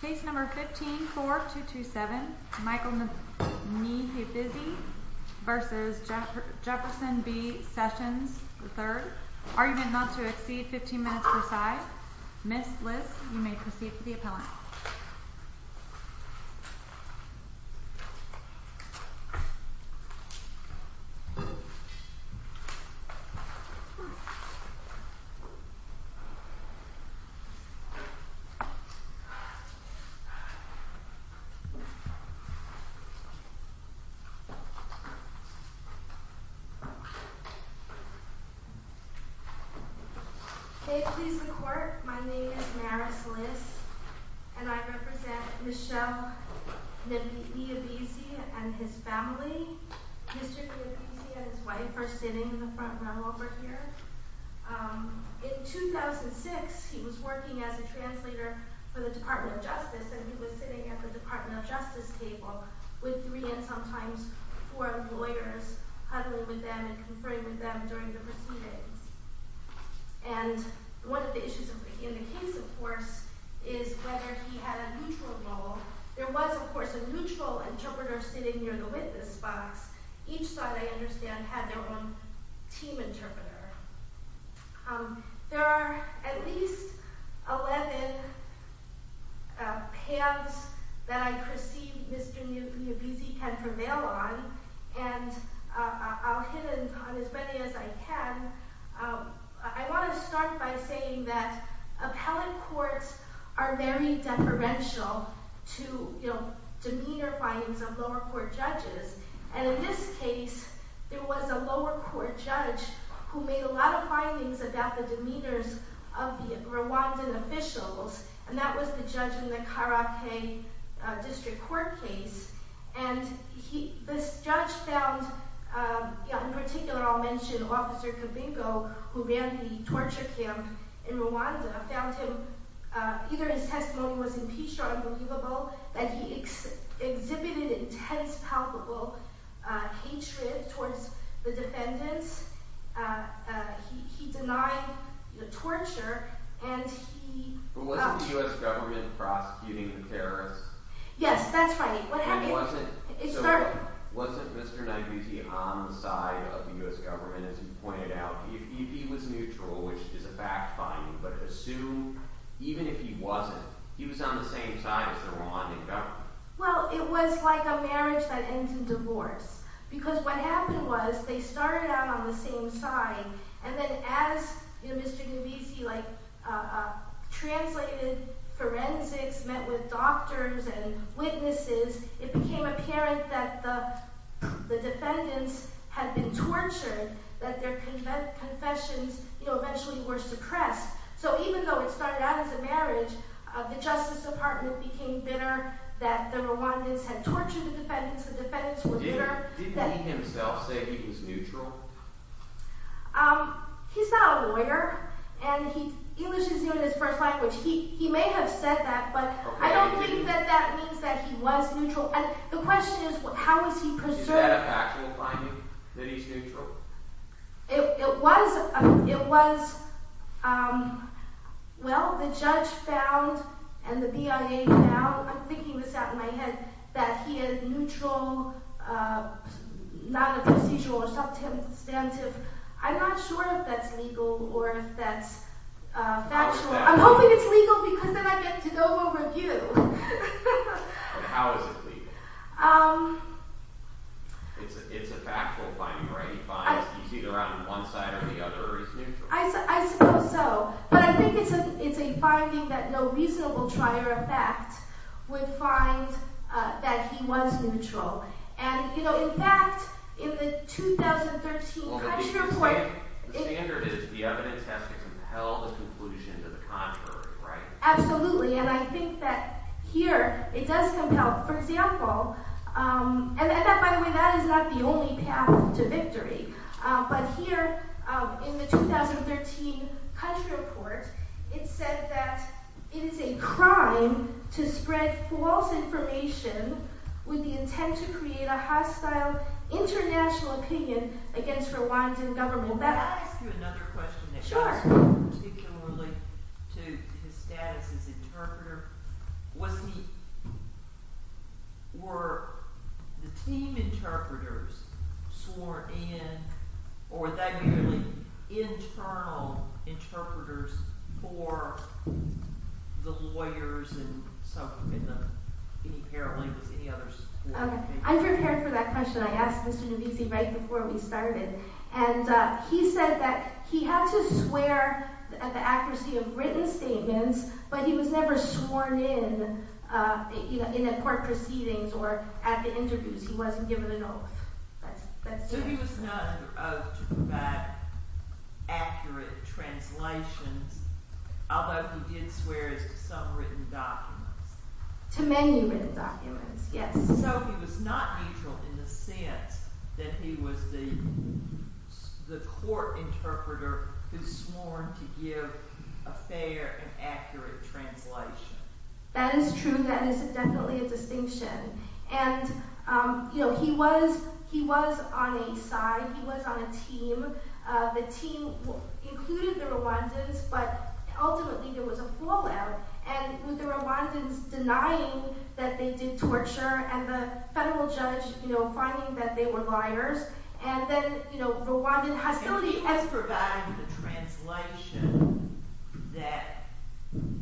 Case No. 15-4227 Michael Niyibizi v. Jefferson B Sessions III Argument not to exceed 15 minutes per side. Miss Liss, you may proceed to the appellant. May it please the court, my name is Maris Liss and I represent Michel Niyibizi and his family. Mr. Niyibizi and his wife are sitting in the front row over here. In 2006, he was working as a translator for the Department of Justice and he was sitting at the Department of Justice table with three and sometimes four lawyers, huddling with them and conferring with them during the proceedings. And one of the issues in the case, of course, is whether he had a neutral role. There was, of course, a neutral interpreter sitting near the witness box. Each side, I understand, had their own team interpreter. There are at least 11 pans that I perceive Mr. Niyibizi can prevail on and I'll hit on as many as I can. I want to start by saying that appellant courts are very deferential to demeanor findings of lower court judges. And in this case, there was a lower court judge who made a lot of findings about the demeanors of the Rwandan officials and that was the judge in the Karake District Court case. And this judge found, in particular I'll mention Officer Kavinko, who ran the torture camp in Rwanda, found him, either his testimony was impeached or unbelievable, that he exhibited intense palpable hatred towards the defendants. He denied the torture and he... Was the U.S. government prosecuting the terrorists? Yes, that's right. Wasn't Mr. Niyibizi on the side of the U.S. government, as you pointed out? If he was neutral, which is a fact finding, but assume, even if he wasn't, he was on the same side as the Rwandan government. Well, it was like a marriage that ends in divorce. Because what happened was, they started out on the same side, and then as Mr. Niyibizi translated forensics, met with doctors and witnesses, it became apparent that the defendants had been tortured, that their confessions eventually were suppressed. So even though it started out as a marriage, the Justice Department became bitter that the Rwandans had tortured the defendants, Didn't he himself say he was neutral? He's not a lawyer, and English is not his first language. He may have said that, but I don't think that means that he was neutral. The question is, how was he preserved? Is that a factual finding, that he's neutral? It was, well, the judge found, and the BIA found, I'm thinking this out in my head, that he is neutral, non-procedural, or substantive. I'm not sure if that's legal, or if that's factual. I'm hoping it's legal, because then I get to go over you. How is it legal? It's a factual finding, right? He's either on one side or the other, or he's neutral. I suppose so. But I think it's a finding that no reasonable trier of fact would find that he was neutral. And, you know, in fact, in the 2013 country report... The standard is the evidence has to compel the conclusion to the contrary, right? Absolutely, and I think that here, it does compel. For example, and by the way, that is not the only path to victory. But here, in the 2013 country report, it said that it is a crime to spread false information with the intent to create a hostile international opinion against Rwandan government. Can I ask you another question? Sure. ...particularly to his status as interpreter. Was he... Were the team interpreters sworn in, or were they merely internal interpreters for the lawyers, and so forth, and the... Any paralegals, any others? I prepared for that question. I asked Mr. Nbisi right before we started. And he said that he had to swear at the accuracy of written statements, but he was never sworn in at court proceedings or at the interviews. He wasn't given an oath. So he was not under oath to provide accurate translations, although he did swear as to some written documents. To many written documents, yes. So he was not neutral in the sense that he was the court interpreter who swore to give a fair and accurate translation. That is true. That is definitely a distinction. And, you know, he was on a side. He was on a team. The team included the Rwandans, but ultimately there was a fallout. And with the Rwandans denying that they did torture, and the federal judge, you know, finding that they were liars, and then, you know, Rwandan hostility... And he has provided the translation that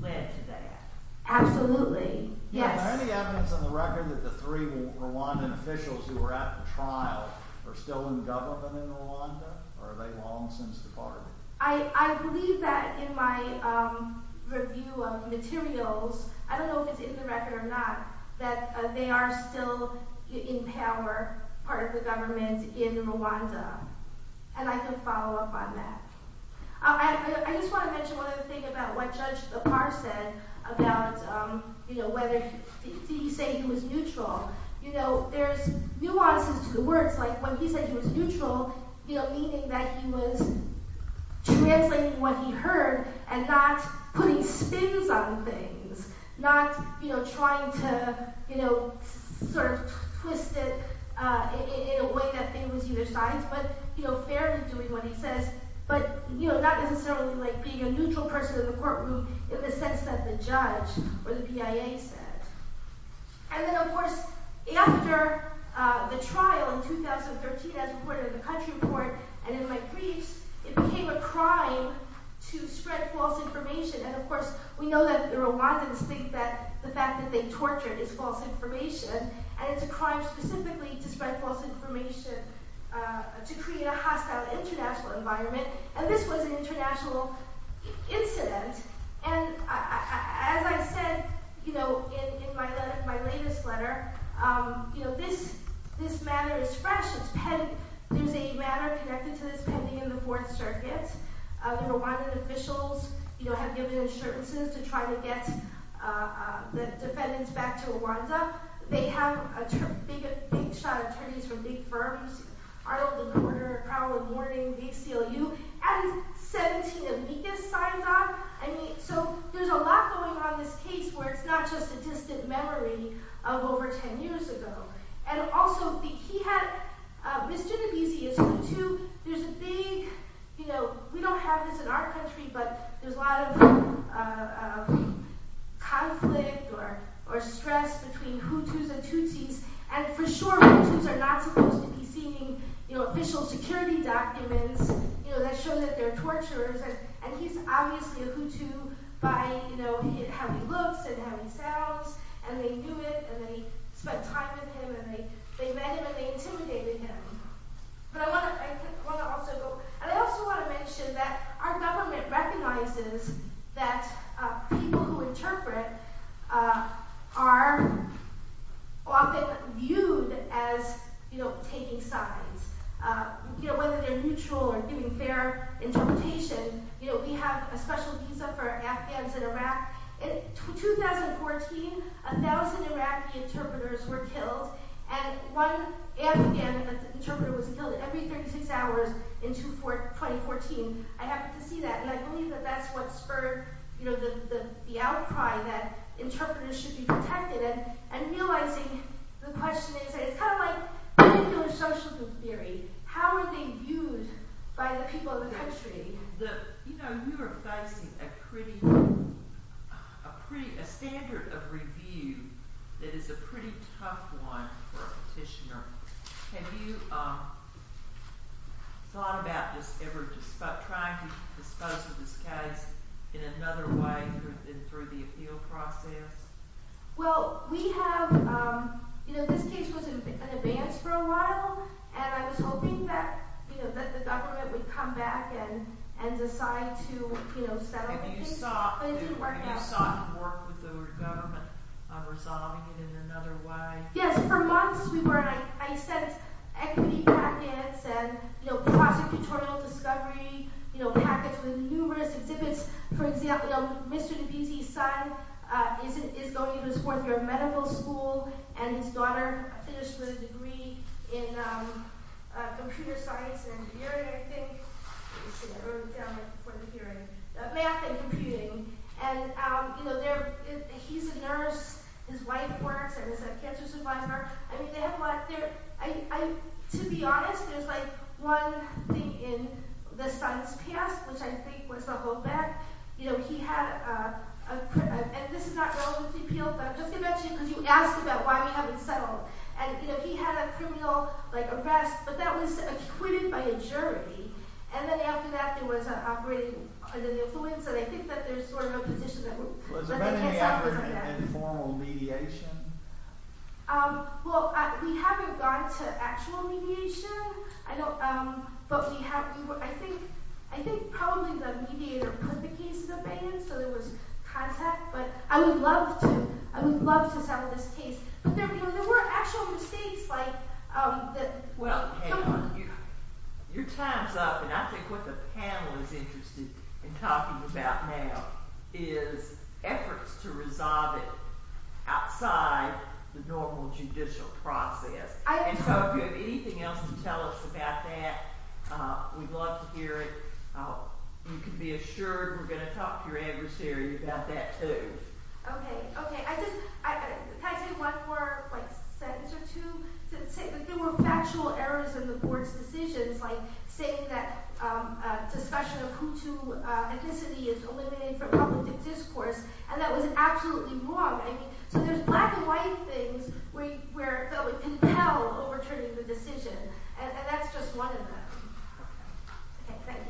led to that. Absolutely. Yes. Are there any evidence on the record that the three Rwandan officials who were at the trial are still in government in Rwanda, or are they long since departed? I believe that in my review of materials, I don't know if it's in the record or not, that they are still in power, part of the government, in Rwanda. And I can follow up on that. I just want to mention one other thing about what Judge Apar said about whether he said he was neutral. You know, there's nuances to the words. Like, when he said he was neutral, you know, meaning that he was translating what he heard and not putting spins on things, not, you know, trying to, you know, sort of twist it in a way that it was either sides, but, you know, fairly doing what he says, but, you know, not necessarily, like, being a neutral person in the courtroom in the sense that the judge or the PIA said. And then, of course, after the trial in 2013, as reported in the country report and in my briefs, it became a crime to spread false information. And, of course, we know that the Rwandans think that the fact that they tortured is false information, and it's a crime specifically to spread false information to create a hostile international environment. And this was an international incident. And as I said, you know, in my latest letter, you know, this manner is fresh. There's a manner connected to this pending in the Fourth Circuit. The Rwandan officials, you know, have given insurances to try to get the defendants back to Rwanda. They have a big shot of attorneys from big firms, Arnold & Porter, Crowell & Morgan, big CLU. And 17 amicus signs on. I mean, so there's a lot going on in this case where it's not just a distant memory of over 10 years ago. And also, he had misdued abuse. There's a big, you know, we don't have this in our country, but there's a lot of conflict or stress between Hutus and Tutsis. There's official security documents, you know, that show that they're torturers. And he's obviously a Hutu by, you know, how he looks and how he sounds, and they knew it, and they spent time with him, and they met him, and they intimidated him. But I want to also go... And I also want to mention that our government recognizes that people who interpret are often viewed as, you know, taking sides, you know, whether they're neutral or giving fair interpretation. You know, we have a special visa for Afghans in Iraq. In 2014, 1,000 Iraqi interpreters were killed, and one Afghan interpreter was killed every 36 hours in 2014. I happen to see that, and I believe that that's what spurred, you know, the outcry that interpreters should be protected. And realizing the question is, it's kind of like social theory. How are they viewed by the people of the country? You know, you are facing a pretty... a standard of review that is a pretty tough one for a petitioner. Have you thought about this ever, trying to dispose of this case in another way through the appeal process? Well, we have... You know, this case was in advance for a while, and I was hoping that, you know, that the government would come back and decide to, you know, settle the case. But it didn't work out. Have you sought to work with the government on resolving it in another way? Yes, for months we were. I sent equity packets and, you know, prosecutorial discovery, you know, packets with numerous exhibits. For example, you know, Mr. Dibisi's son is going to his fourth year of medical school, and his daughter finished with a degree in computer science and engineering, I think. I wrote it down before the hearing. Math and computing. And, you know, he's a nurse. His wife works and is a cancer survivor. I mean, they have a lot... To be honest, there's, like, one thing in the son's past, which I think was a holdback. You know, he had a... And this is not relevant to the appeal, but I'm just going to mention it because you asked about why we haven't settled. And, you know, he had a criminal, like, arrest, but that was acquitted by a jury. And then after that, it was operating under the influence, and I think that there's sort of a position that... Was there any effort in formal mediation? Well, we haven't gone to actual mediation. I don't... But we have... I think probably the mediator put the case in the pan, so there was contact. But I would love to... I would love to settle this case. But there were actual mistakes, like... Well, hey, your time's up, and I think what the panel is interested in talking about now is efforts to resolve it outside the normal judicial process. And so if you have anything else to tell us about that, we'd love to hear it. You can be assured we're going to talk to your adversary about that, too. Okay, okay. I just... Can I say one more, like, sentence or two? There were factual errors in the board's decisions, like saying that discussion of who to ethnicity is eliminated from public discourse, and that was absolutely wrong. I mean, so there's black-and-white things where it felt compelled overturning the decision, and that's just one of them. Okay, thank you.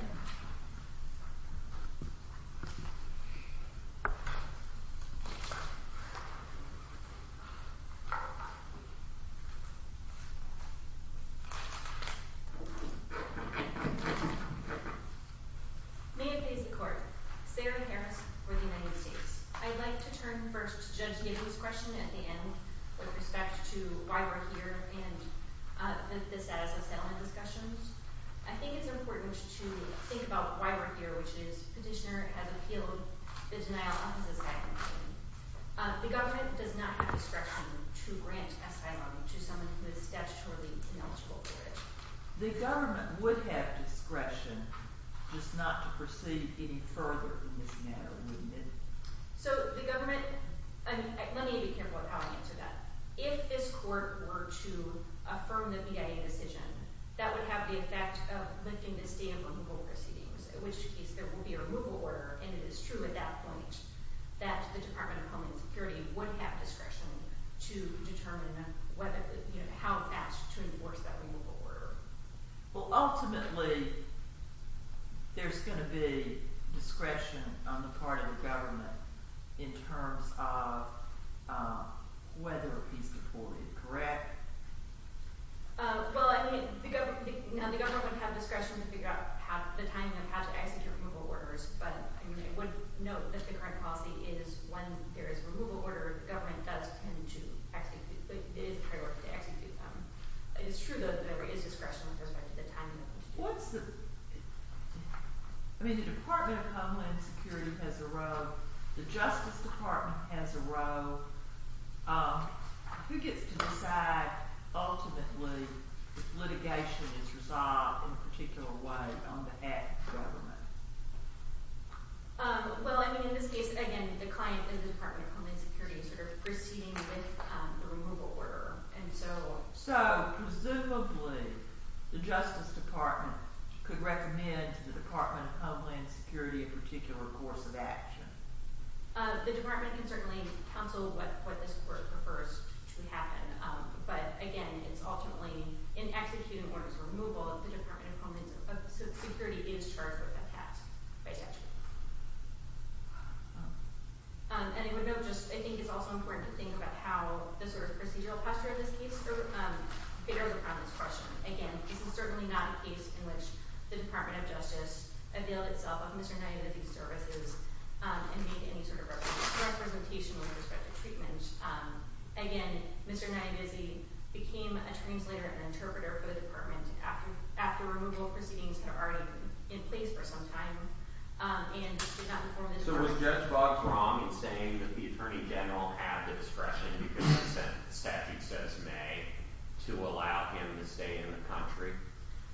May it please the Court, Sarah Harris for the United States. I'd like to turn first to Judge Gable's question at the end, with respect to why we're here and the status of settlement discussions. I think it's important to think about why we're here, which is Petitioner has appealed the denial of his asylum claim. The government does not have discretion to grant asylum to someone who is statutorily ineligible for it. The government would have discretion just not to proceed any further in this matter, wouldn't it? So the government... Let me be careful of how I answer that. If this court were to affirm the BIA decision, that would have the effect of lifting the stamp on removal proceedings, in which case there would be a removal order, and it is true at that point that the Department of Homeland Security would have discretion to determine how it acts to enforce that removal order. Well, ultimately, there's going to be discretion on the part of the government in terms of whether he's deported, correct? Well, I mean, the government would have discretion to figure out the timing of how to execute removal orders, but I would note that the current policy is when there is a removal order, the government does tend to execute it. It is a priority to execute them. It is true that there is discretion with respect to the timing of it. What's the... I mean, the Department of Homeland Security has a role. The Justice Department has a role. Who gets to decide, ultimately, if litigation is resolved in a particular way on behalf of the government? Well, I mean, in this case, again, the client is the Department of Homeland Security sort of proceeding with the removal order, and so... So, presumably, the Justice Department could recommend to the Department of Homeland Security a particular course of action. The department can certainly counsel what this court prefers to happen, but, again, it's ultimately... In executing orders for removal, the Department of Homeland Security is charged with that task by statute. And I would note just... I think it's also important to think about how the sort of procedural posture of this case fares upon this question. Again, this is certainly not a case in which the Department of Justice availed itself of Mr. Niagizi's services and made any sort of representation with respect to treatment. Again, Mr. Niagizi became a translator and interpreter for the department after removal proceedings had already been in place for some time and did not inform the department... So was Judge Boggs wrong in saying that the attorney general had the discretion because of the statute says may to allow him to stay in the country?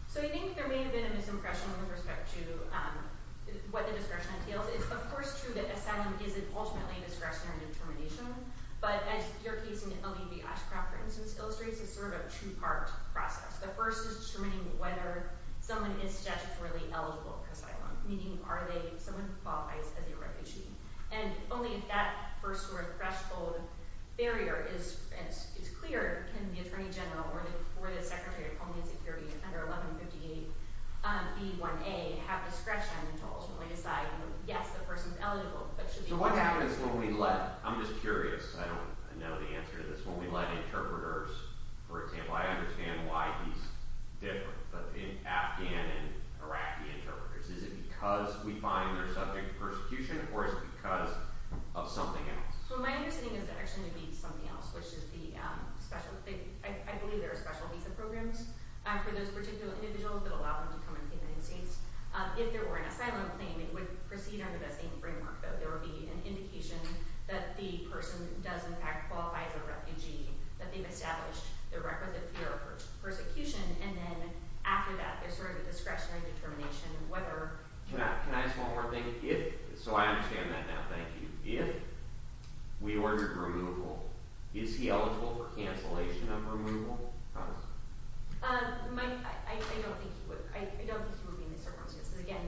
So I think there may have been a misimpression with respect to what the discretion entails. It's, of course, true that asylum isn't ultimately a discretionary determination, but, as your case in L.E.B. Oshkraft, for instance, illustrates, it's sort of a two-part process. The first is determining whether someone is statutorily eligible for asylum, meaning are they someone who qualifies as a refugee. And only if that first sort of threshold barrier is clear can the attorney general or the secretary of Homeland Security under 1158B1A have discretion to ultimately decide yes, the person's eligible, but should be... So what happens when we let... I'm just curious. I don't know the answer to this. When we let interpreters, for example... I understand why he's different, but in Afghan and Iraqi interpreters, is it because we find they're subject to persecution or is it because of something else? So my understanding is there actually should be something else, which is the special... I believe there are special visa programs for those particular individuals that allow them to come into the United States. If there were an asylum claim, it would proceed under the same framework, that there would be an indication that the person does, in fact, qualify as a refugee, that they've established their requisite fear of persecution, and then after that, there's sort of a discretionary determination whether... Can I ask one more thing? So I understand that now, thank you. If we ordered removal, is he eligible for cancellation of removal? Mike, I don't think he would be in these circumstances. Again,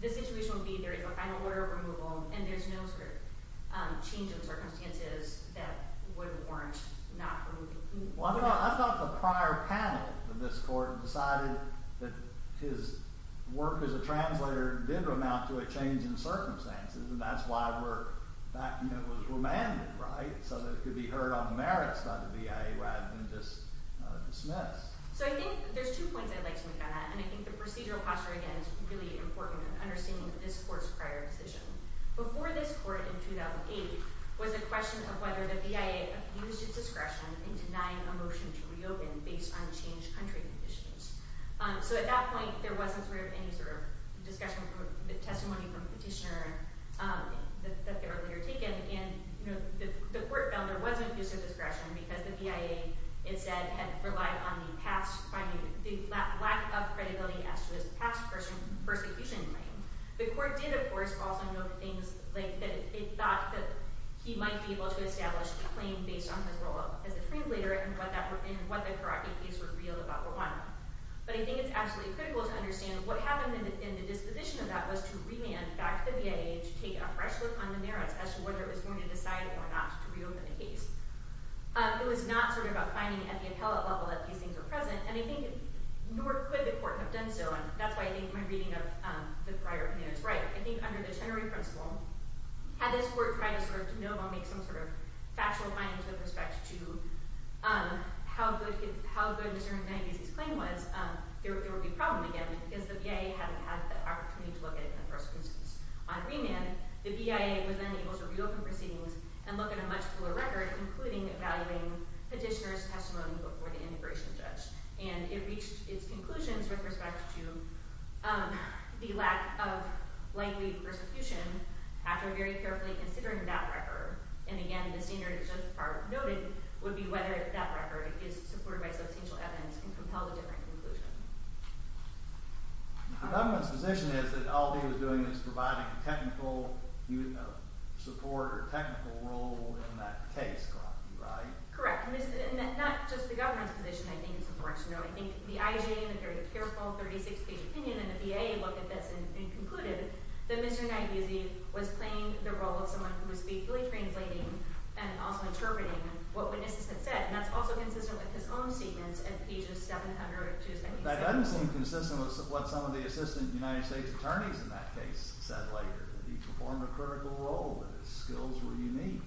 the situation would be there is a final order of removal and there's no sort of change in circumstances that would warrant not removing him. Well, I thought the prior panel in this court decided that his work as a translator did amount to a change in circumstances, and that's why the document was remanded, right? So that it could be heard on the merits by the BIA rather than just dismissed. So I think there's two points I'd like to make on that, and I think the procedural posture, again, is really important in understanding this court's prior decision. Before this court in 2008 was a question of whether the BIA used its discretion in denying a motion to reopen based on changed country conditions. So at that point, there wasn't any sort of discussion or testimony from the petitioner that they were later taken, and the court found there wasn't use of discretion because the BIA, it said, had relied on the lack of credibility as to its past persecution claim. The court did, of course, also note things like that it thought that he might be able to establish a claim based on his role as a free leader and what the Iraqi case revealed about Rwanda. But I think it's absolutely critical to understand what happened in the disposition of that was to remand back to the BIA to take a fresh look on the merits as to whether it was going to decide or not to reopen the case. It was not sort of a finding at the appellate level that these things were present, and I think nor could the court have done so, and that's why I think my reading of the prior opinion is right. I think under the Teneri principle, had this court tried to sort of de novo make some sort of factual findings with respect to how good Mr. Neguse's claim was, there would be a problem again, because the BIA hadn't had the opportunity to look at it in the first instance. On remand, the BIA was then able to reopen proceedings and look at a much fuller record, including evaluating petitioner's testimony before the integration judge. And it reached its conclusions with respect to the lack of likely persecution after very carefully considering that record, and again, the senior judge part noted would be whether that record is supported by substantial evidence and compel a different conclusion. The government's position is that all he was doing was providing a technical support or technical role in that case, correct? Correct. And not just the government's position, I think it's important to know. I think the IG and the very careful 36-page opinion in the BIA look at this and conclude that Mr. Neguse was playing the role of someone who was faithfully translating and also interpreting what witnesses had said, and that's also consistent with his own statements at pages 700 and 270. That doesn't seem consistent with what some of the assistant United States attorneys in that case said later, that he performed a critical role, that his skills were unique.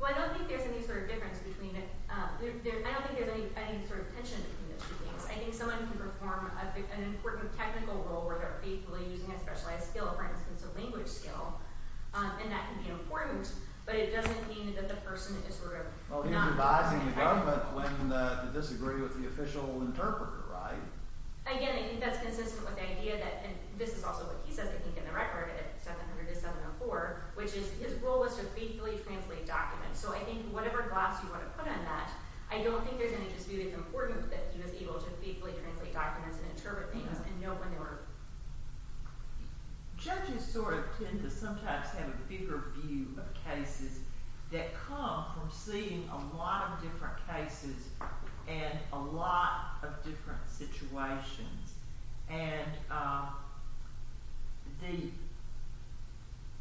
Well, I don't think there's any sort of difference between... I don't think there's any sort of tension between the two things. I think someone can perform an important technical role without faithfully using a specialized skill, for instance, a language skill, and that can be important, but it doesn't mean that the person is sort of not... Well, he's advising the government when to disagree with the official interpreter, right? Again, I think that's consistent with the idea that... And this is also what he says, I think, in the record at 700 to 704, which is his role was to faithfully translate documents. So I think whatever glass you want to put on that, I don't think there's any dispute it's important that he was able to faithfully translate documents and interpret things and know when they were... Judges sort of tend to sometimes have a bigger view of cases that come from seeing a lot of different cases and a lot of different situations. And the...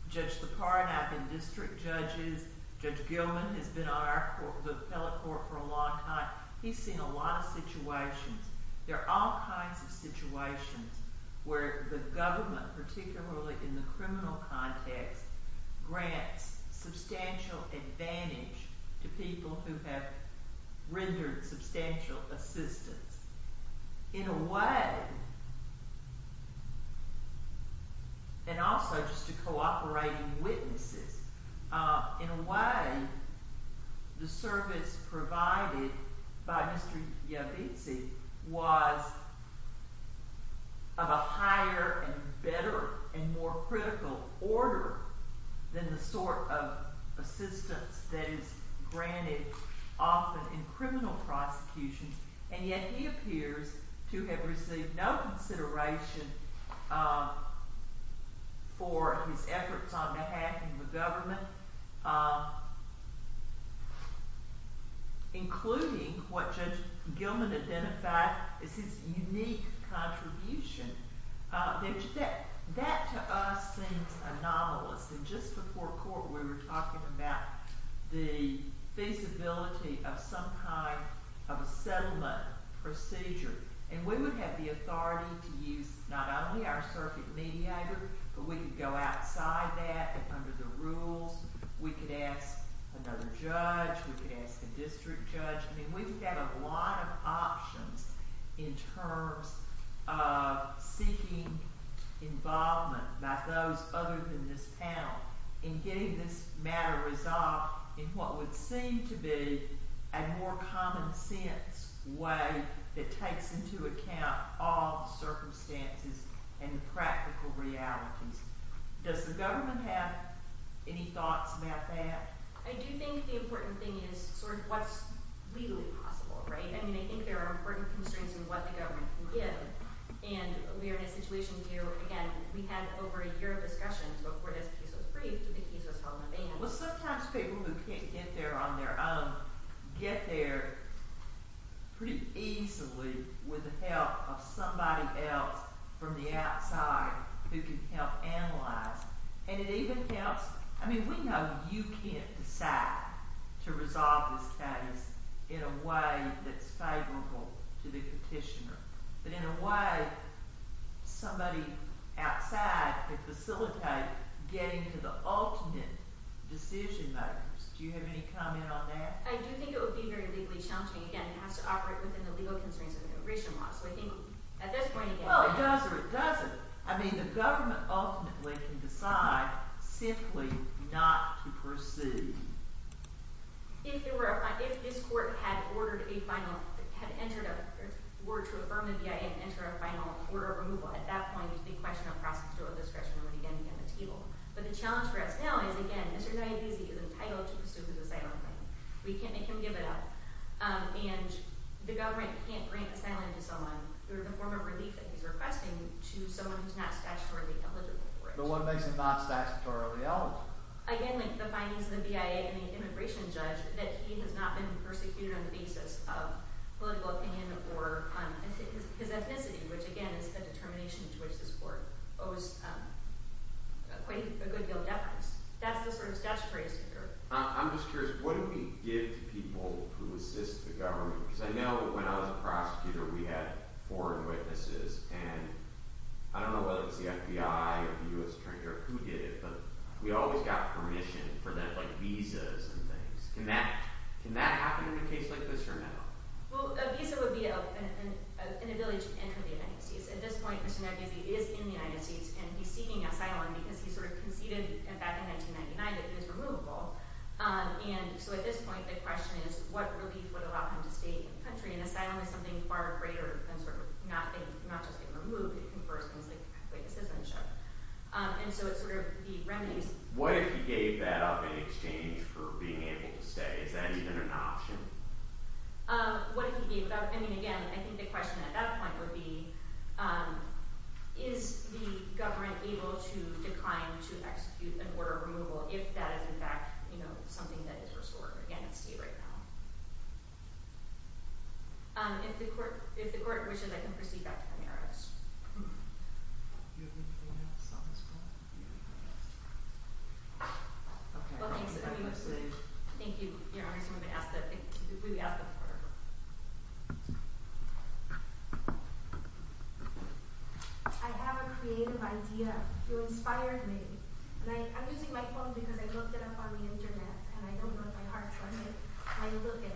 Judge Sipar and I have been district judges. Judge Gilman has been on our court, the appellate court, for a long time. He's seen a lot of situations. There are all kinds of situations where the government, particularly in the criminal context, grants substantial advantage to people who have rendered substantial assistance. In a way... And also just to co-operating witnesses, in a way, the service provided by Mr Yavizzi was of a higher and better and more critical order than the sort of assistance that is granted often in criminal prosecutions, and yet he appears to have received no consideration for his efforts on behalf of the government, including what Judge Gilman identified as his unique contribution. That, to us, seems anomalous. And just before court, we were talking about the feasibility of some kind of a settlement procedure. And we would have the authority to use not only our circuit mediator, but we could go outside that, and under the rules, we could ask another judge, we could ask a district judge. I mean, we've got a lot of options in terms of seeking involvement by those other than this panel in getting this matter resolved in what would seem to be a more common sense way that takes into account all the circumstances and the practical realities. Does the government have any thoughts about that? I do think the important thing is sort of what's legally possible, right? I mean, I think there are important constraints in what the government can give. And we are in a situation where, again, we had over a year of discussions before this case was briefed. The case was held in advance. Well, sometimes people who can't get there on their own get there pretty easily with the help of somebody else from the outside who can help analyze. And it even helps... I mean, we know you can't decide to resolve this case in a way that's favorable to the petitioner. But in a way, somebody outside could facilitate getting to the ultimate decision-makers. Do you have any comment on that? I do think it would be very legally challenging. Again, it has to operate within the legal constraints of immigration law. I mean, the government ultimately can decide simply not to pursue. If this court had ordered a final... were to affirm the BIA and enter a final order of removal, at that point, the question of process would again be on the table. But the challenge for us now is, again, Mr. Diabese is entitled to pursue his asylum claim. We can't make him give it up. And the government can't grant asylum to someone through the form of relief that he's requesting to someone who's not statutorily eligible for it. But what makes it not statutorily eligible? Again, the findings of the BIA and the immigration judge that he has not been persecuted on the basis of political opinion or his ethnicity, which, again, is the determination to which this court owes quite a good deal of deference. That's the sort of statutory issue here. I'm just curious, what do we give to people who assist the government? Because I know when I was a prosecutor, we had foreign witnesses, and I don't know whether it was the FBI or the U.S. Attorney General who did it, but we always got permission for visas and things. Can that happen in a case like this or no? Well, a visa would be an ability to enter the United States. At this point, Mr. Diabese is in the United States and he's seeking asylum because he sort of conceded back in 1999 that he was removable. And so at this point, the question is, what relief would allow him to stay in the country? And asylum is something far greater than sort of not just being removed. It confers things like witness citizenship. And so it's sort of the remedies. What if he gave that up in exchange for being able to stay? Is that even an option? What if he gave it up? I mean, again, I think the question at that point would be, is the government able to decline to execute an order of removal if that is, in fact, something that is restorative. Again, it's state right now. If the court wishes, I can proceed back to the merits. Thank you. I have a creative idea. You inspired me. I'm using my phone because I looked it up on the internet and I don't know if my heart's on it when I look at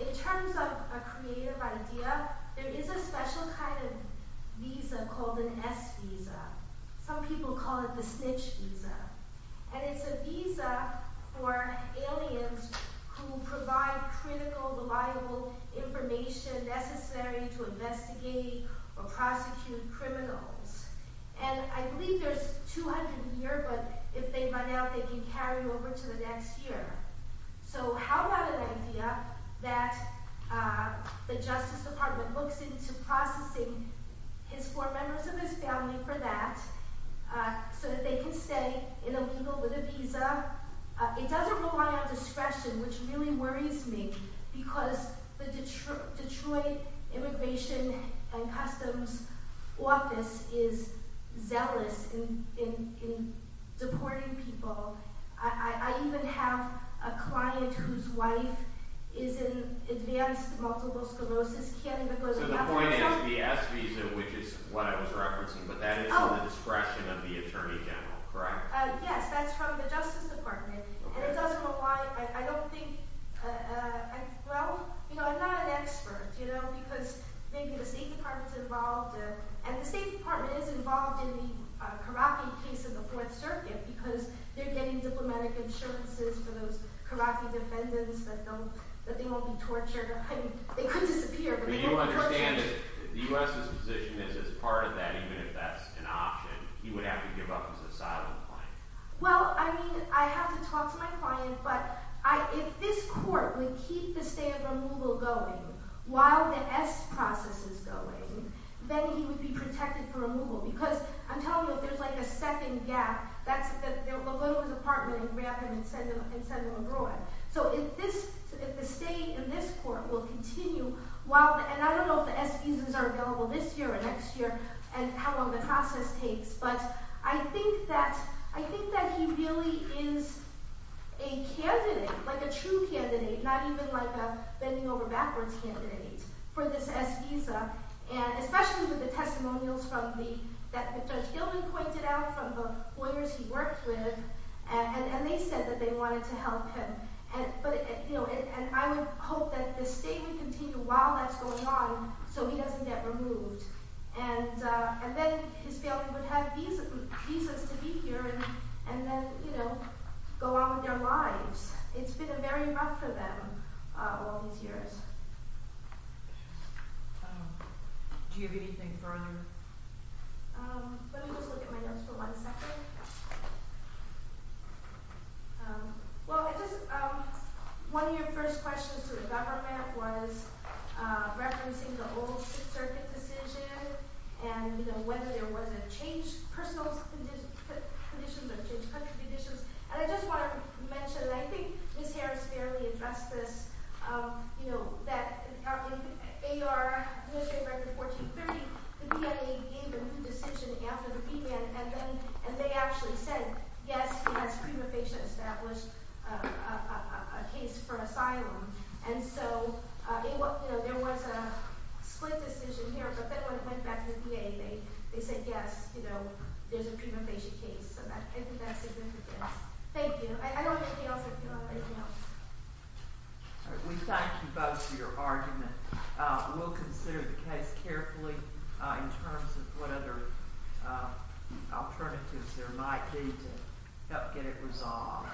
it. In terms of a creative idea, there is a special kind of visa called an S visa. Some people call it the snitch visa. And it's a visa for aliens who provide critical, reliable information necessary to investigate or prosecute criminals. And I believe there's 200 here, but if they run out, they can carry over to the next year. So how about an idea that the Justice Department looks into processing his four members of his family for that so that they can stay in a legal with a visa. It doesn't rely on discretion, which really worries me because the Detroit Immigration and Customs Office is zealous in deporting people. I even have a client whose wife is in advanced multiple sclerosis. So the point is the S visa, which is what I was referencing, but that is on the discretion of the Attorney General, correct? Yes, that's from the Justice Department. And it doesn't rely, I don't think, well, I'm not an expert, you know, because maybe the State Department's involved and the State Department is involved in the Karaki case in the Fourth Circuit because they're getting diplomatic insurances for those Karaki defendants that they won't be tortured. They could disappear, but they won't be tortured. Do you understand that the U.S.'s position is as part of that, even if that's an option, he would have to give up his asylum claim? Well, I mean, I have to talk to my client, but if this court would keep the stay of removal going while the S process is going, then he would be protected for removal because I'm telling you, if there's like a second gap, they'll go to his apartment and grab him and send him abroad. So if the stay in this court will continue while, and I don't know if the S visas are available this year or next year and how long the process takes, but I think that he really is a candidate, like a true candidate, not even like a bending over backwards candidate for this S visa, and especially with the testimonials that Judge Gilley pointed out from the lawyers he worked with, and they said that they wanted to help him, and I would hope that the stay would continue while that's going on so he doesn't get removed, and then his family would have visas to be here and then, you know, go on with their lives. It's been a very rough for them all these years. Do you have anything further? Let me just look at my notes for one second. Well, one of your first questions to the government was referencing the old circuit decision, and whether there was a change personal conditions or change country conditions, and I just want to mention, and I think Ms. Harris fairly addressed this, you know, that in AR Administrative Record 1430 the PMA gave a new decision after the PMA, and then they actually said, yes, he has pre-mufascia established a case for asylum, and so there was a split decision here, but then when it went back to the PMA, they said yes, you know, there's a pre-mufascia case, so I think that's significant. Thank you. I don't have anything else. We thank you both for your argument. We'll consider the case carefully in terms of what other alternatives there might be to help get it resolved.